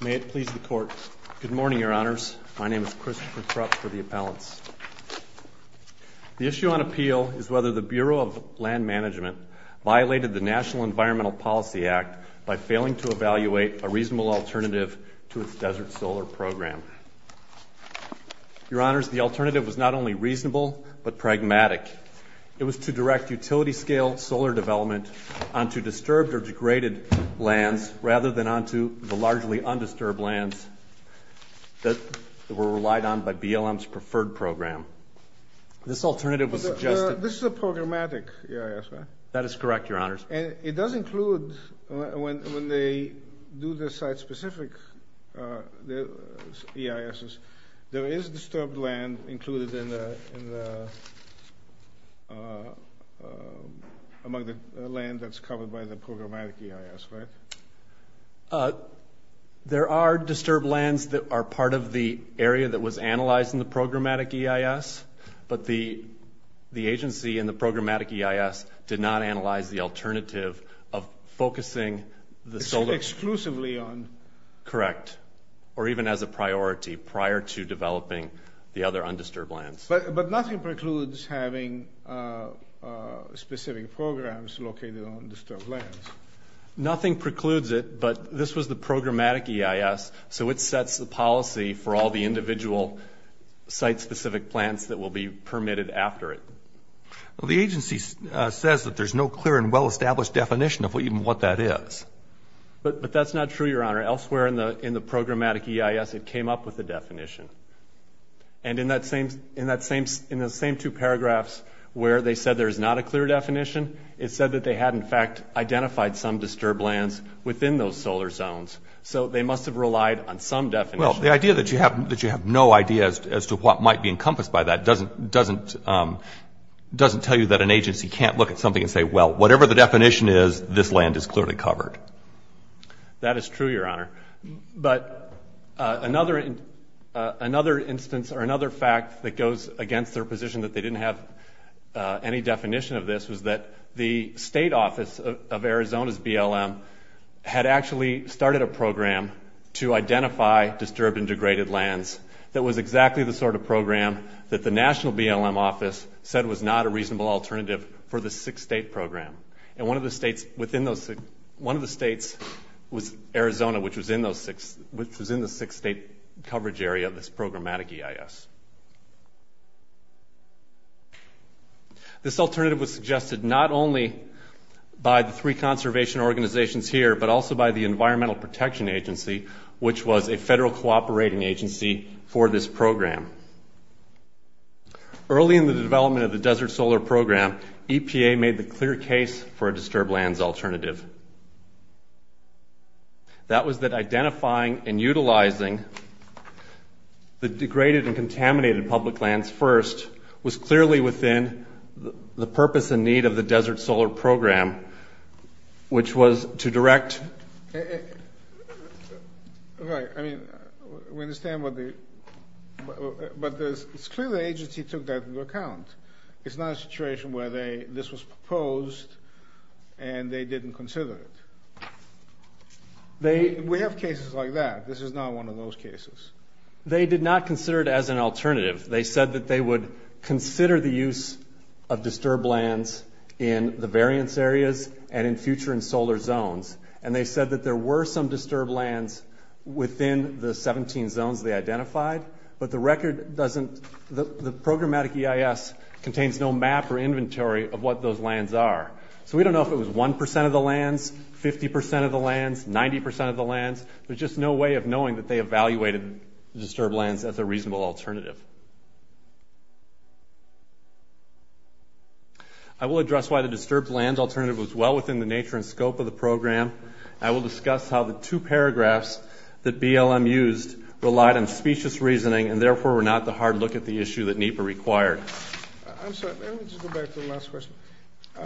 May it please the Court. Good morning, Your Honors. My name is Christopher Krupp for the Appellants. The issue on appeal is whether the Bureau of Land Management violated the National Environmental Policy Act by failing to evaluate a reasonable alternative to its desert solar program. Your Honors, the alternative was not only reasonable, but pragmatic. It was to direct utility-scale solar development onto disturbed or degraded lands rather than onto the largely undisturbed lands that were relied on by BLM's preferred program. This alternative was suggested... This is a programmatic EIS, right? That is correct, Your Honors. It does include, when they do the site-specific EISs, there is disturbed land included in the... among the land that's covered by the programmatic EIS, right? There are disturbed lands that are part of the area that was analyzed in the programmatic EIS, but the agency in the programmatic EIS did not analyze the alternative of focusing the solar... Exclusively on... Correct, or even as a priority prior to developing the other undisturbed lands. But nothing precludes having specific programs located on disturbed lands. Nothing precludes it, but this was the programmatic EIS, so it sets the policy for all the individual site-specific plants that will be permitted after it. Well, the agency says that there's no clear and well-established definition of even what that is. But that's not true, Your Honor. Elsewhere in the programmatic EIS, it came up with a definition. And in those same two paragraphs where they said there's not a clear definition, it said that they had, in fact, identified some disturbed lands within those solar zones, so they must have relied on some definition. Well, the idea that you have no idea as to what might be encompassed by that doesn't tell you that an agency can't look at something and say, well, whatever the definition is, this land is clearly covered. That is true, Your Honor. But another instance or another fact that goes against their position that they didn't have any definition of this was that the state office of Arizona's BLM had actually started a program to identify disturbed and degraded lands that was exactly the sort of program that the national BLM office said was not a reasonable alternative for the six-state program. And one of the states was Arizona, which was in the six-state coverage area of this programmatic EIS. This alternative was suggested not only by the three conservation organizations here but also by the Environmental Protection Agency, which was a federal cooperating agency for this program. Early in the development of the Desert Solar Program, EPA made the clear case for a disturbed lands alternative. That was that identifying and utilizing the degraded and contaminated public lands first was clearly within the purpose and need of the Desert Solar Program, which was to direct... Right. I mean, we understand what the... But it's clear the agency took that into account. It's not a situation where this was proposed and they didn't consider it. We have cases like that. This is not one of those cases. They did not consider it as an alternative. They said that they would consider the use of disturbed lands in the variance areas and in future in solar zones. And they said that there were some disturbed lands within the 17 zones they identified, but the record doesn't... The programmatic EIS contains no map or inventory of what those lands are. So we don't know if it was 1% of the lands, 50% of the lands, 90% of the lands. There's just no way of knowing that they evaluated disturbed lands as a reasonable alternative. I will address why the disturbed lands alternative was well within the nature and scope of the program. I will discuss how the two paragraphs that BLM used relied on specious reasoning and therefore were not the hard look at the issue that NEPA required. I'm sorry. Let me just go back to the last question. I'm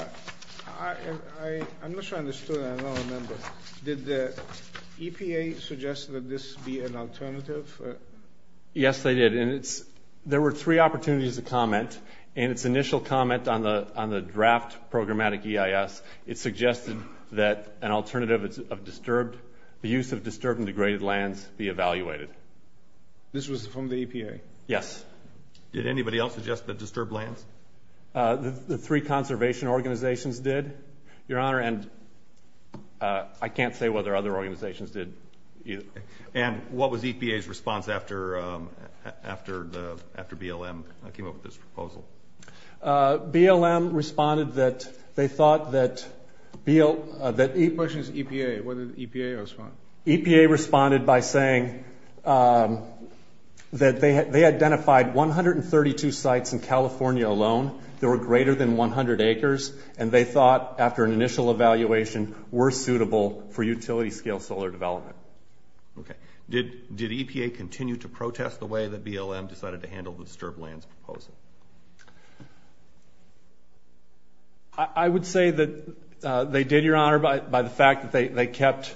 not sure I understood. I don't remember. Did the EPA suggest that this be an alternative? Yes, they did. And there were three opportunities to comment. In its initial comment on the draft programmatic EIS, it suggested that an alternative of disturbed... the use of disturbed and degraded lands be evaluated. This was from the EPA? Yes. Did anybody else suggest that disturbed lands? The three conservation organizations did, Your Honor, and I can't say whether other organizations did either. And what was EPA's response after BLM came up with this proposal? BLM responded that they thought that... The question is EPA. What did EPA respond? EPA responded by saying that they identified 132 sites in California alone that were greater than 100 acres, and they thought after an initial evaluation were suitable for utility-scale solar development. Okay. Did EPA continue to protest the way that BLM decided to handle the disturbed lands proposal? I would say that they did, Your Honor, by the fact that they kept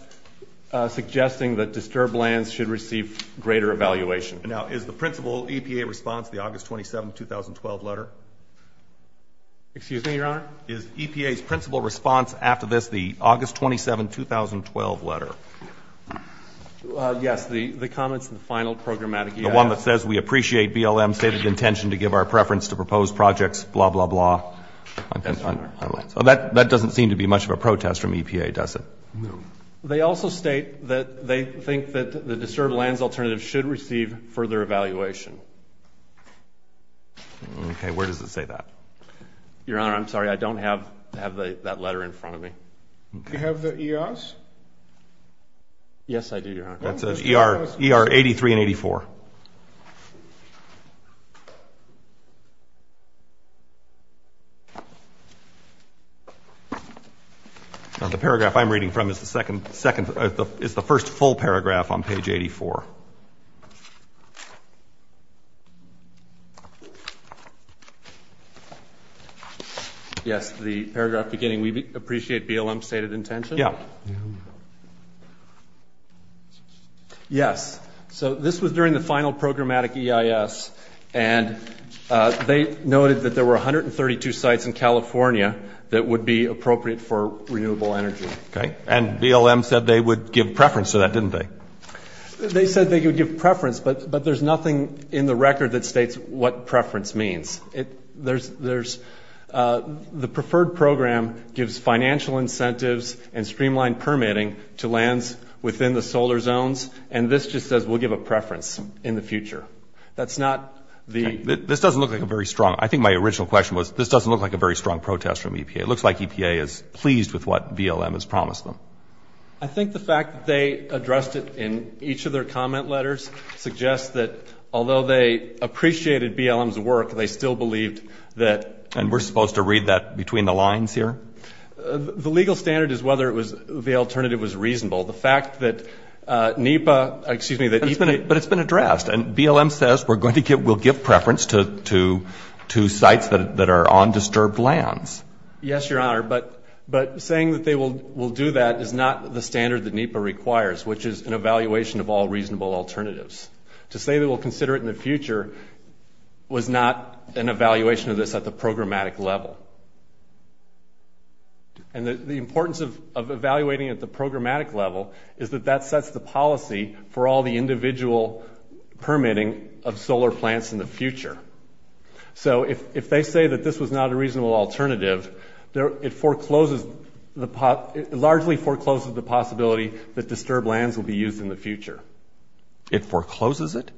suggesting that disturbed lands should receive greater evaluation. Now, is the principal EPA response the August 27, 2012 letter? Excuse me, Your Honor? Is EPA's principal response after this the August 27, 2012 letter? Yes. The comments in the final programmatic... The one that says we appreciate BLM's stated intention to give our preference to proposed projects, blah, blah, blah. That doesn't seem to be much of a protest from EPA, does it? No. They also state that they think that the disturbed lands alternative should receive further evaluation. Okay. Where does it say that? Your Honor, I'm sorry, I don't have that letter in front of me. Do you have the ERs? Yes, I do, Your Honor. That says ER 83 and 84. The paragraph I'm reading from is the first full paragraph on page 84. Yes, the paragraph beginning, we appreciate BLM's stated intention. Yeah. Yes. So this was during the final programmatic EIS, and they noted that there were 132 sites in California that would be appropriate for renewable energy. Okay. And BLM said they would give preference to that, didn't they? They said they would give preference, but there's nothing in the record that states what preference means. There's the preferred program gives financial incentives and streamlined permitting to lands within the solar zones, and this just says we'll give a preference in the future. That's not the... Okay. This doesn't look like a very strong... I think my original question was this doesn't look like a very strong protest from EPA. It looks like EPA is pleased with what BLM has promised them. I think the fact that they addressed it in each of their comment letters suggests that although they appreciated BLM's work, they still believed that... And we're supposed to read that between the lines here? The legal standard is whether the alternative was reasonable. The fact that NEPA... Excuse me. But it's been addressed, and BLM says we'll give preference to sites that are on disturbed lands. Yes, Your Honor, but saying that they will do that is not the standard that NEPA requires, which is an evaluation of all reasonable alternatives. To say they will consider it in the future was not an evaluation of this at the programmatic level. And the importance of evaluating at the programmatic level is that that sets the policy for all the individual permitting of solar plants in the future. So if they say that this was not a reasonable alternative, it largely forecloses the possibility that disturbed lands will be used in the future. It forecloses it?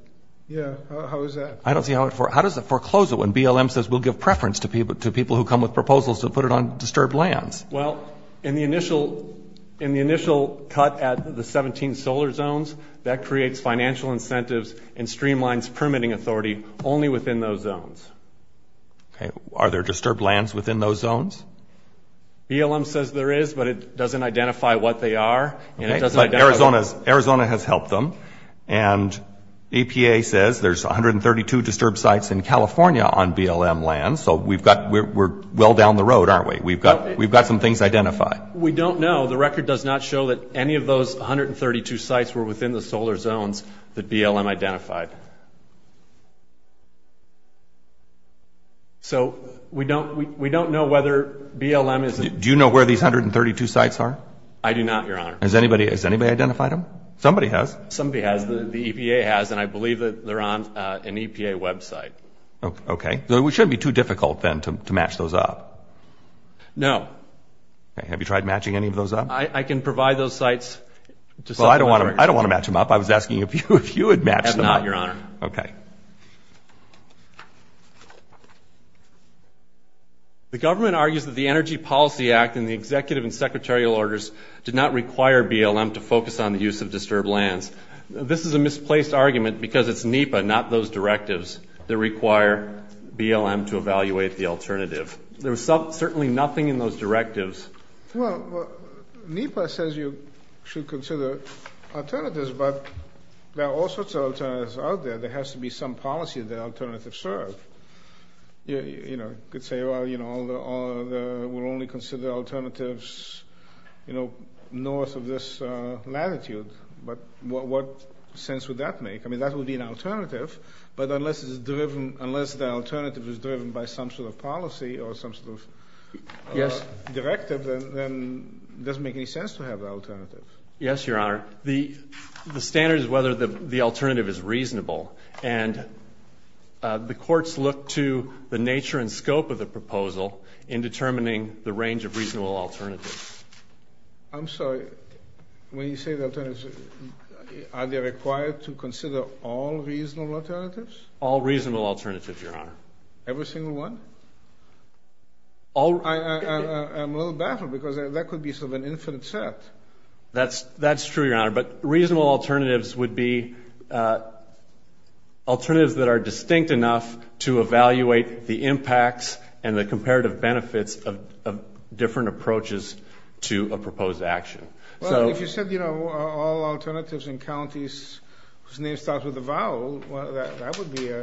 Yes. How is that? I don't see how it forecloses it when BLM says we'll give preference to people who come with proposals to put it on disturbed lands. Well, in the initial cut at the 17 solar zones, that creates financial incentives and streamlines permitting authority only within those zones. Okay. Are there disturbed lands within those zones? BLM says there is, but it doesn't identify what they are. Okay, but Arizona has helped them. And EPA says there's 132 disturbed sites in California on BLM lands, so we're well down the road, aren't we? We've got some things identified. We don't know. The record does not show that any of those 132 sites were within the solar zones that BLM identified. So we don't know whether BLM is... Do you know where these 132 sites are? I do not, Your Honor. Has anybody identified them? Somebody has. Somebody has. The EPA has, and I believe that they're on an EPA website. Okay. It shouldn't be too difficult, then, to match those up. No. Have you tried matching any of those up? I can provide those sites. Well, I don't want to match them up. I was asking if you would match them up. I have not, Your Honor. Okay. The government argues that the Energy Policy Act and the executive and secretarial orders did not require BLM to focus on the use of disturbed lands. This is a misplaced argument because it's NEPA, not those directives, that require BLM to evaluate the alternative. There was certainly nothing in those directives. Well, NEPA says you should consider alternatives, but there are all sorts of alternatives out there. There has to be some policy that alternatives serve. You could say, well, we'll only consider alternatives north of this latitude, but what sense would that make? I mean, that would be an alternative, but unless the alternative is driven by some sort of policy or some sort of directive, then it doesn't make any sense to have the alternative. Yes, Your Honor. The standard is whether the alternative is reasonable, and the courts look to the nature and scope of the proposal in determining the range of reasonable alternatives. I'm sorry. When you say the alternatives, are they required to consider all reasonable alternatives? All reasonable alternatives, Your Honor. Every single one? I'm a little baffled because that could be sort of an infinite set. That's true, Your Honor, but reasonable alternatives would be alternatives that are distinct enough to evaluate the impacts and the comparative benefits of different approaches to a proposed action. Well, if you said, you know, all alternatives in counties whose name starts with a vowel, that would be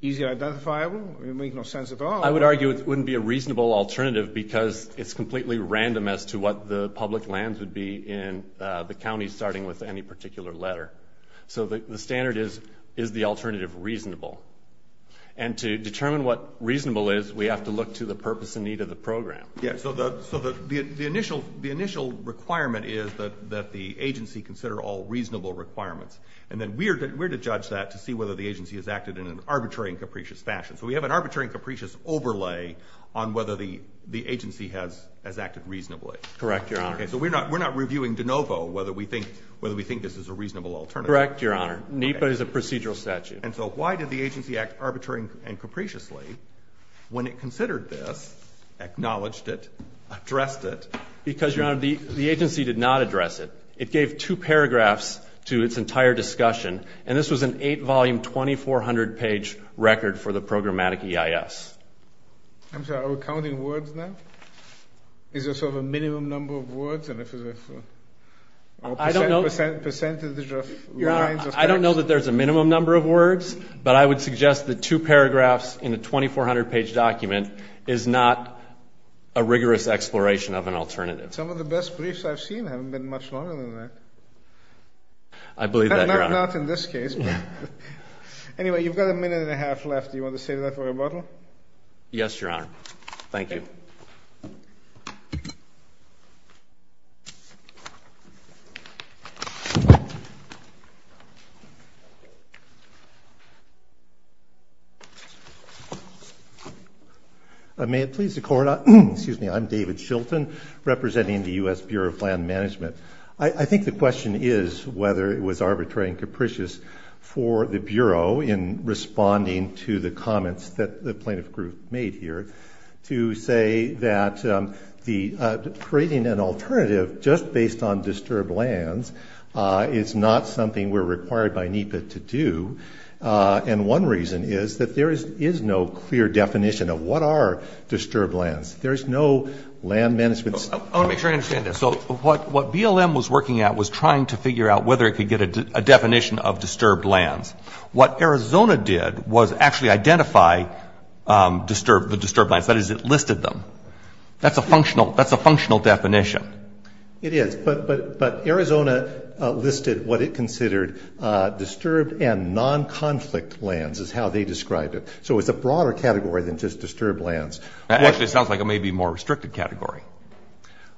easily identifiable? It would make no sense at all. I would argue it wouldn't be a reasonable alternative because it's completely random as to what the public lands would be in the county, starting with any particular letter. So the standard is, is the alternative reasonable? And to determine what reasonable is, we have to look to the purpose and need of the program. So the initial requirement is that the agency consider all reasonable requirements, and then we're to judge that to see whether the agency has acted in an arbitrary and capricious fashion. So we have an arbitrary and capricious overlay on whether the agency has acted reasonably. Correct, Your Honor. Okay, so we're not reviewing de novo whether we think this is a reasonable alternative. Correct, Your Honor. NEPA is a procedural statute. And so why did the agency act arbitrary and capriciously when it considered this, acknowledged it, addressed it? Because, Your Honor, the agency did not address it. It gave two paragraphs to its entire discussion, and this was an eight-volume, 2,400-page record for the programmatic EIS. I'm sorry, are we counting words now? Is there sort of a minimum number of words? I don't know that there's a minimum number of words, but I would suggest that two paragraphs in a 2,400-page document is not a rigorous exploration of an alternative. Some of the best briefs I've seen haven't been much longer than that. I believe that, Your Honor. Not in this case. Anyway, you've got a minute and a half left. Do you want to save that for rebuttal? Yes, Your Honor. Thank you. May it please the Court, I'm David Shilton, representing the U.S. Bureau of Land Management. I think the question is whether it was arbitrary and capricious for the Bureau in responding to the comments that the plaintiff group made here to say that creating an alternative just based on disturbed lands is not something we're required by NEPA to do, and one reason is that there is no clear definition of what are disturbed lands. There's no land management. I want to make sure I understand this. So what BLM was working at was trying to figure out whether it could get a definition of disturbed lands. What Arizona did was actually identify the disturbed lands, that is, it listed them. That's a functional definition. It is. But Arizona listed what it considered disturbed and non-conflict lands is how they described it. So it's a broader category than just disturbed lands. That actually sounds like a maybe more restricted category.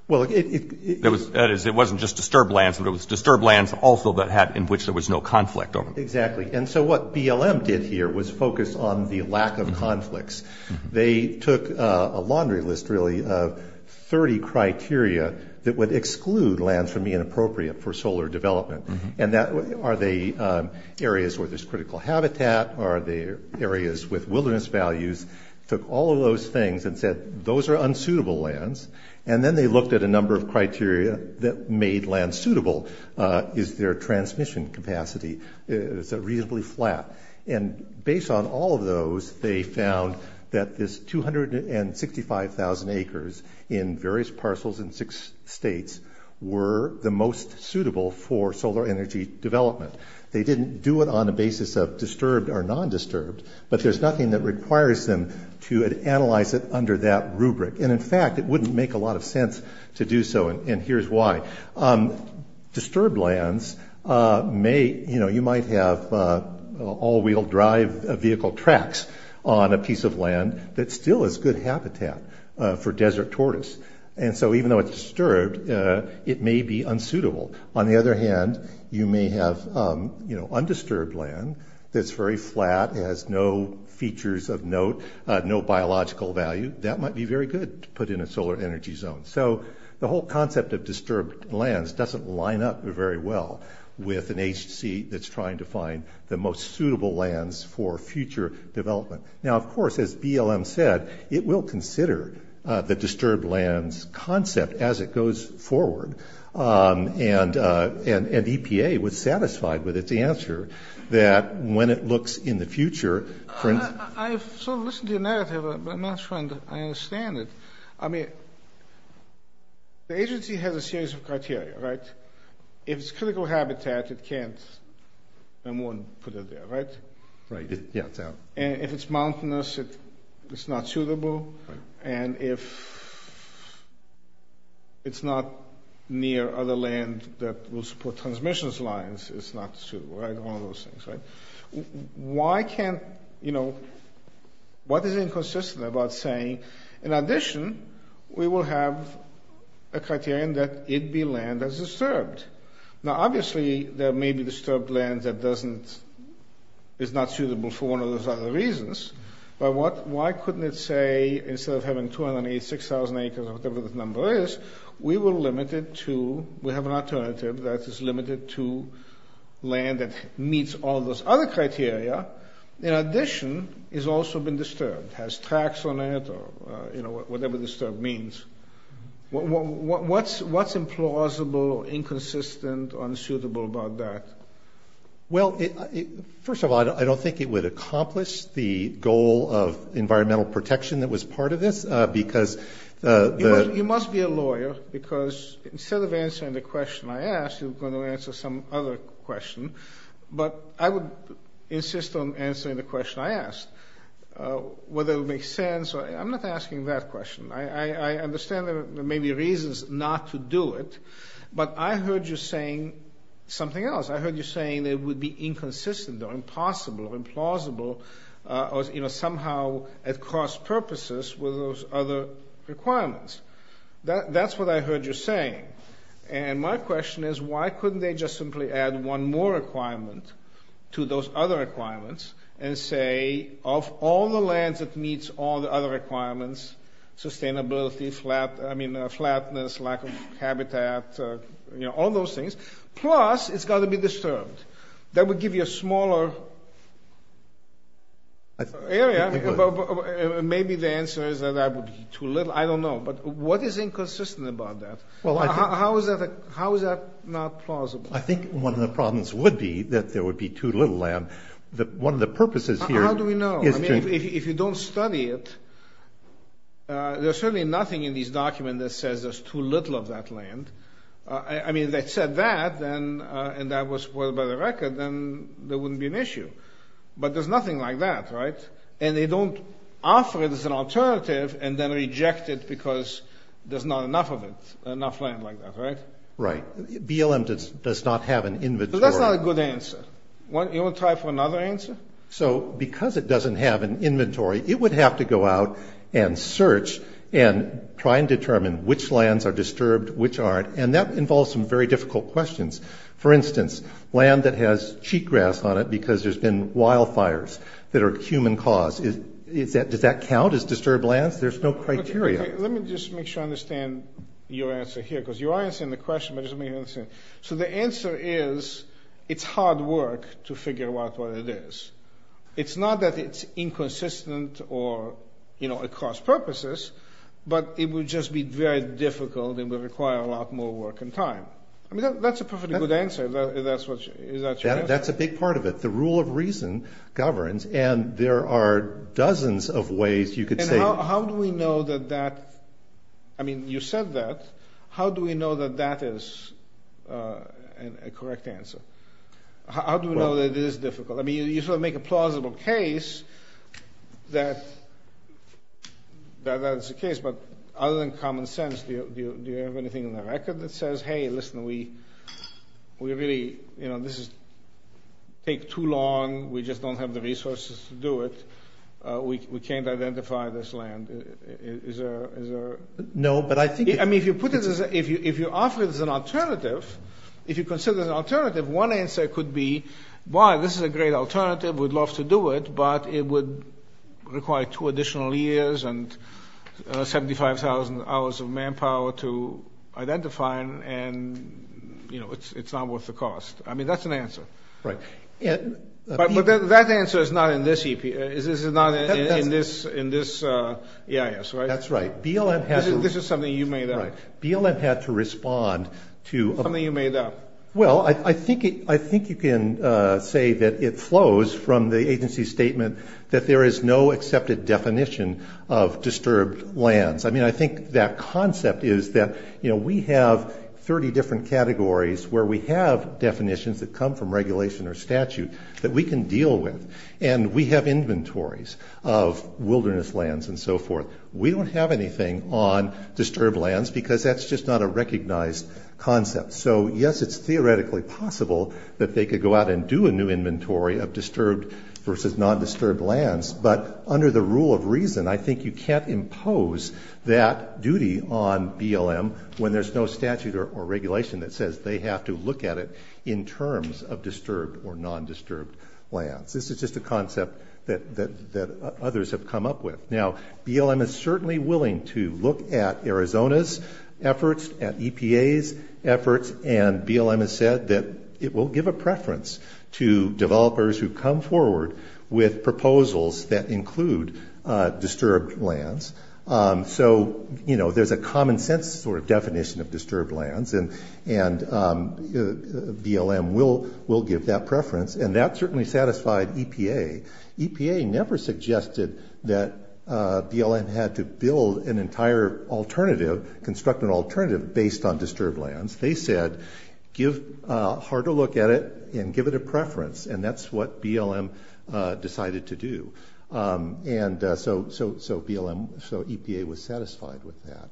Well, it is. That is, it wasn't just disturbed lands, but it was disturbed lands also in which there was no conflict over them. Exactly. And so what BLM did here was focus on the lack of conflicts. They took a laundry list, really, of 30 criteria that would exclude lands from being appropriate for solar development. Are they areas where there's critical habitat? Are they areas with wilderness values? Took all of those things and said those are unsuitable lands, and then they looked at a number of criteria that made land suitable. Is there transmission capacity? Is it reasonably flat? And based on all of those, they found that this 265,000 acres in various parcels in six states were the most suitable for solar energy development. They didn't do it on the basis of disturbed or non-disturbed, but there's nothing that requires them to analyze it under that rubric. And in fact, it wouldn't make a lot of sense to do so, and here's why. Disturbed lands may, you know, you might have all-wheel drive vehicle tracks on a piece of land that still is good habitat for desert tortoise. And so even though it's disturbed, it may be unsuitable. On the other hand, you may have, you know, undisturbed land that's very flat, has no features of note, no biological value. That might be very good to put in a solar energy zone. So the whole concept of disturbed lands doesn't line up very well with an agency that's trying to find the most suitable lands for future development. Now, of course, as BLM said, it will consider the disturbed lands concept as it goes forward, and EPA was satisfied with its answer that when it looks in the future. I've sort of listened to your narrative, but I'm not sure I understand it. I mean, the agency has a series of criteria, right? If it's critical habitat, it can't and wouldn't put it there, right? Right, yeah. And if it's mountainous, it's not suitable. And if it's not near other land that will support transmission lines, it's not suitable. Right? It's one of those things, right? Why can't, you know, what is inconsistent about saying, in addition, we will have a criterion that it be land that's disturbed? Now, obviously, there may be disturbed land that doesn't, is not suitable for one of those other reasons. But why couldn't it say, instead of having 286,000 acres or whatever the number is, we will limit it to, we have an alternative that is limited to land that meets all those other criteria. In addition, it's also been disturbed, has tracks on it or, you know, whatever disturbed means. What's implausible, inconsistent, unsuitable about that? Well, first of all, I don't think it would accomplish the goal of environmental protection that was part of this because the ‑‑ You must be a lawyer because instead of answering the question I asked, you're going to answer some other question. But I would insist on answering the question I asked, whether it would make sense. I'm not asking that question. I understand there may be reasons not to do it. But I heard you saying something else. I heard you saying it would be inconsistent or impossible or implausible or, you know, somehow at cross purposes with those other requirements. That's what I heard you saying. And my question is, why couldn't they just simply add one more requirement to those other requirements and say, of all the lands that meets all the other requirements, sustainability, flat, I mean, flatness, lack of habitat, you know, all those things. Plus, it's got to be disturbed. That would give you a smaller area. Maybe the answer is that that would be too little. I don't know. But what is inconsistent about that? How is that not plausible? I think one of the problems would be that there would be too little land. How do we know? I mean, if you don't study it, there's certainly nothing in these documents that says there's too little of that land. I mean, if they said that and that was spoiled by the record, then there wouldn't be an issue. But there's nothing like that, right? And they don't offer it as an alternative and then reject it because there's not enough of it, enough land like that, right? Right. BLM does not have an inventory. But that's not a good answer. You want to try for another answer? So because it doesn't have an inventory, it would have to go out and search and try and determine which lands are disturbed, which aren't. And that involves some very difficult questions. For instance, land that has cheatgrass on it because there's been wildfires that are a human cause, does that count as disturbed lands? There's no criteria. Let me just make sure I understand your answer here because you are answering the question, but just let me understand. So the answer is it's hard work to figure out what it is. It's not that it's inconsistent or, you know, across purposes, but it would just be very difficult and would require a lot more work and time. I mean, that's a perfectly good answer. Is that your answer? That's a big part of it. The rule of reason governs, and there are dozens of ways you could say— So how do we know that that—I mean, you said that. How do we know that that is a correct answer? How do we know that it is difficult? I mean, you sort of make a plausible case that that's the case, but other than common sense, do you have anything in the record that says, hey, listen, we really—you know, this is—take too long. We just don't have the resources to do it. We can't identify this land. Is there— No, but I think— I mean, if you put it as—if you offer it as an alternative, if you consider it as an alternative, one answer could be, why, this is a great alternative. But it would require two additional years and 75,000 hours of manpower to identify, and, you know, it's not worth the cost. I mean, that's an answer. Right. But that answer is not in this EIS, right? That's right. BLM has— This is something you made up. Right. BLM had to respond to— Something you made up. Well, I think you can say that it flows from the agency's statement that there is no accepted definition of disturbed lands. I mean, I think that concept is that, you know, we have 30 different categories where we have definitions that come from regulation or statute that we can deal with, and we have inventories of wilderness lands and so forth. We don't have anything on disturbed lands because that's just not a recognized concept. So, yes, it's theoretically possible that they could go out and do a new inventory of disturbed versus non-disturbed lands, but under the rule of reason, I think you can't impose that duty on BLM when there's no statute or regulation that says they have to look at it in terms of disturbed or non-disturbed lands. This is just a concept that others have come up with. Now, BLM is certainly willing to look at Arizona's efforts, at EPA's efforts, and BLM has said that it will give a preference to developers who come forward with proposals that include disturbed lands. So, you know, there's a common-sense sort of definition of disturbed lands, and BLM will give that preference, and that certainly satisfied EPA. EPA never suggested that BLM had to build an entire alternative, construct an alternative based on disturbed lands. They said, give a harder look at it and give it a preference, and that's what BLM decided to do. And so EPA was satisfied with that.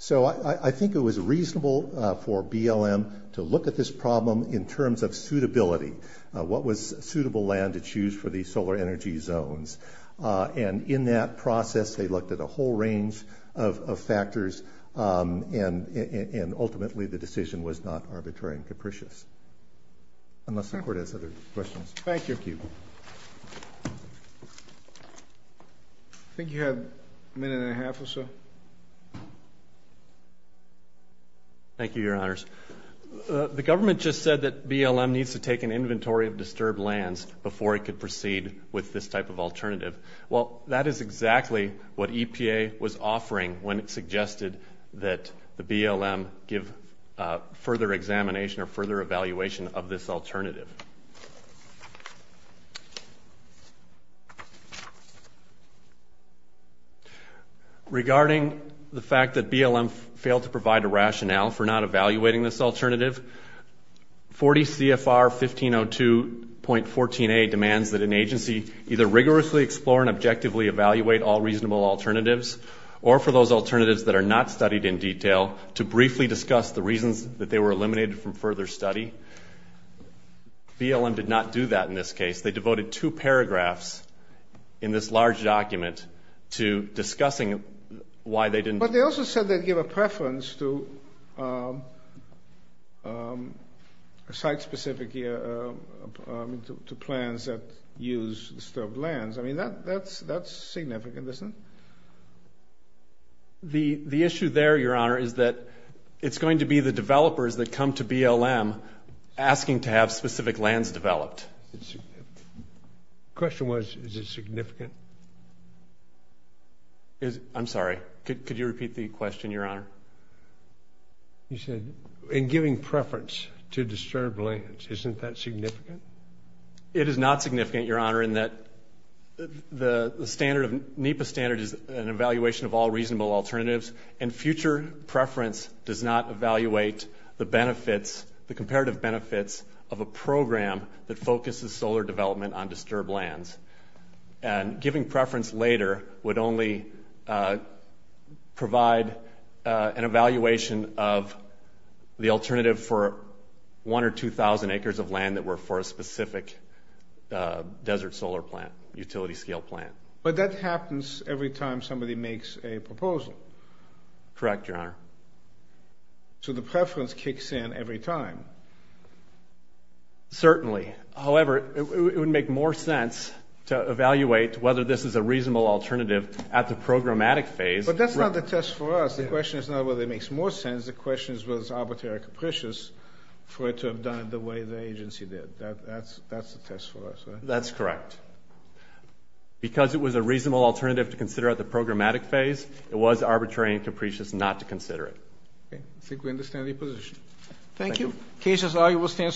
So I think it was reasonable for BLM to look at this problem in terms of suitability. What was suitable land to choose for these solar energy zones? And in that process, they looked at a whole range of factors, and ultimately the decision was not arbitrary and capricious. Unless the Court has other questions. Thank you. I think you have a minute and a half or so. Thank you, Your Honors. The government just said that BLM needs to take an inventory of disturbed lands before it could proceed with this type of alternative. Well, that is exactly what EPA was offering when it suggested that the BLM give further examination or further evaluation of this alternative. Regarding the fact that BLM failed to provide a rationale for not evaluating this alternative, 40 CFR 1502.14a demands that an agency either rigorously explore and objectively evaluate all reasonable alternatives, or for those alternatives that are not studied in detail, to briefly discuss the reasons that they were eliminated from further study. BLM did not do that in this case. They devoted two paragraphs in this large document to discussing why they didn't. But they also said they'd give a preference to site-specific plans that use disturbed lands. I mean, that's significant, isn't it? The issue there, Your Honor, is that it's going to be the developers that come to BLM asking to have specific lands developed. The question was, is it significant? I'm sorry. Could you repeat the question, Your Honor? You said, in giving preference to disturbed lands. Isn't that significant? It is not significant, Your Honor, in that the standard of NEPA standard is an evaluation of all reasonable alternatives, and future preference does not evaluate the benefits, the comparative benefits, of a program that focuses solar development on disturbed lands. And giving preference later would only provide an evaluation of the alternative for 1,000 or 2,000 acres of land that were forested. It's not a specific desert solar plant, utility-scale plant. But that happens every time somebody makes a proposal. Correct, Your Honor. So the preference kicks in every time. Certainly. However, it would make more sense to evaluate whether this is a reasonable alternative at the programmatic phase. But that's not the test for us. The question is not whether it makes more sense. The question is whether it's arbitrary or capricious for it to have done it the way the agency did. That's the test for us, right? That's correct. Because it was a reasonable alternative to consider at the programmatic phase, it was arbitrary and capricious not to consider it. Okay. I think we understand the position. Thank you. Thank you. The case is argued.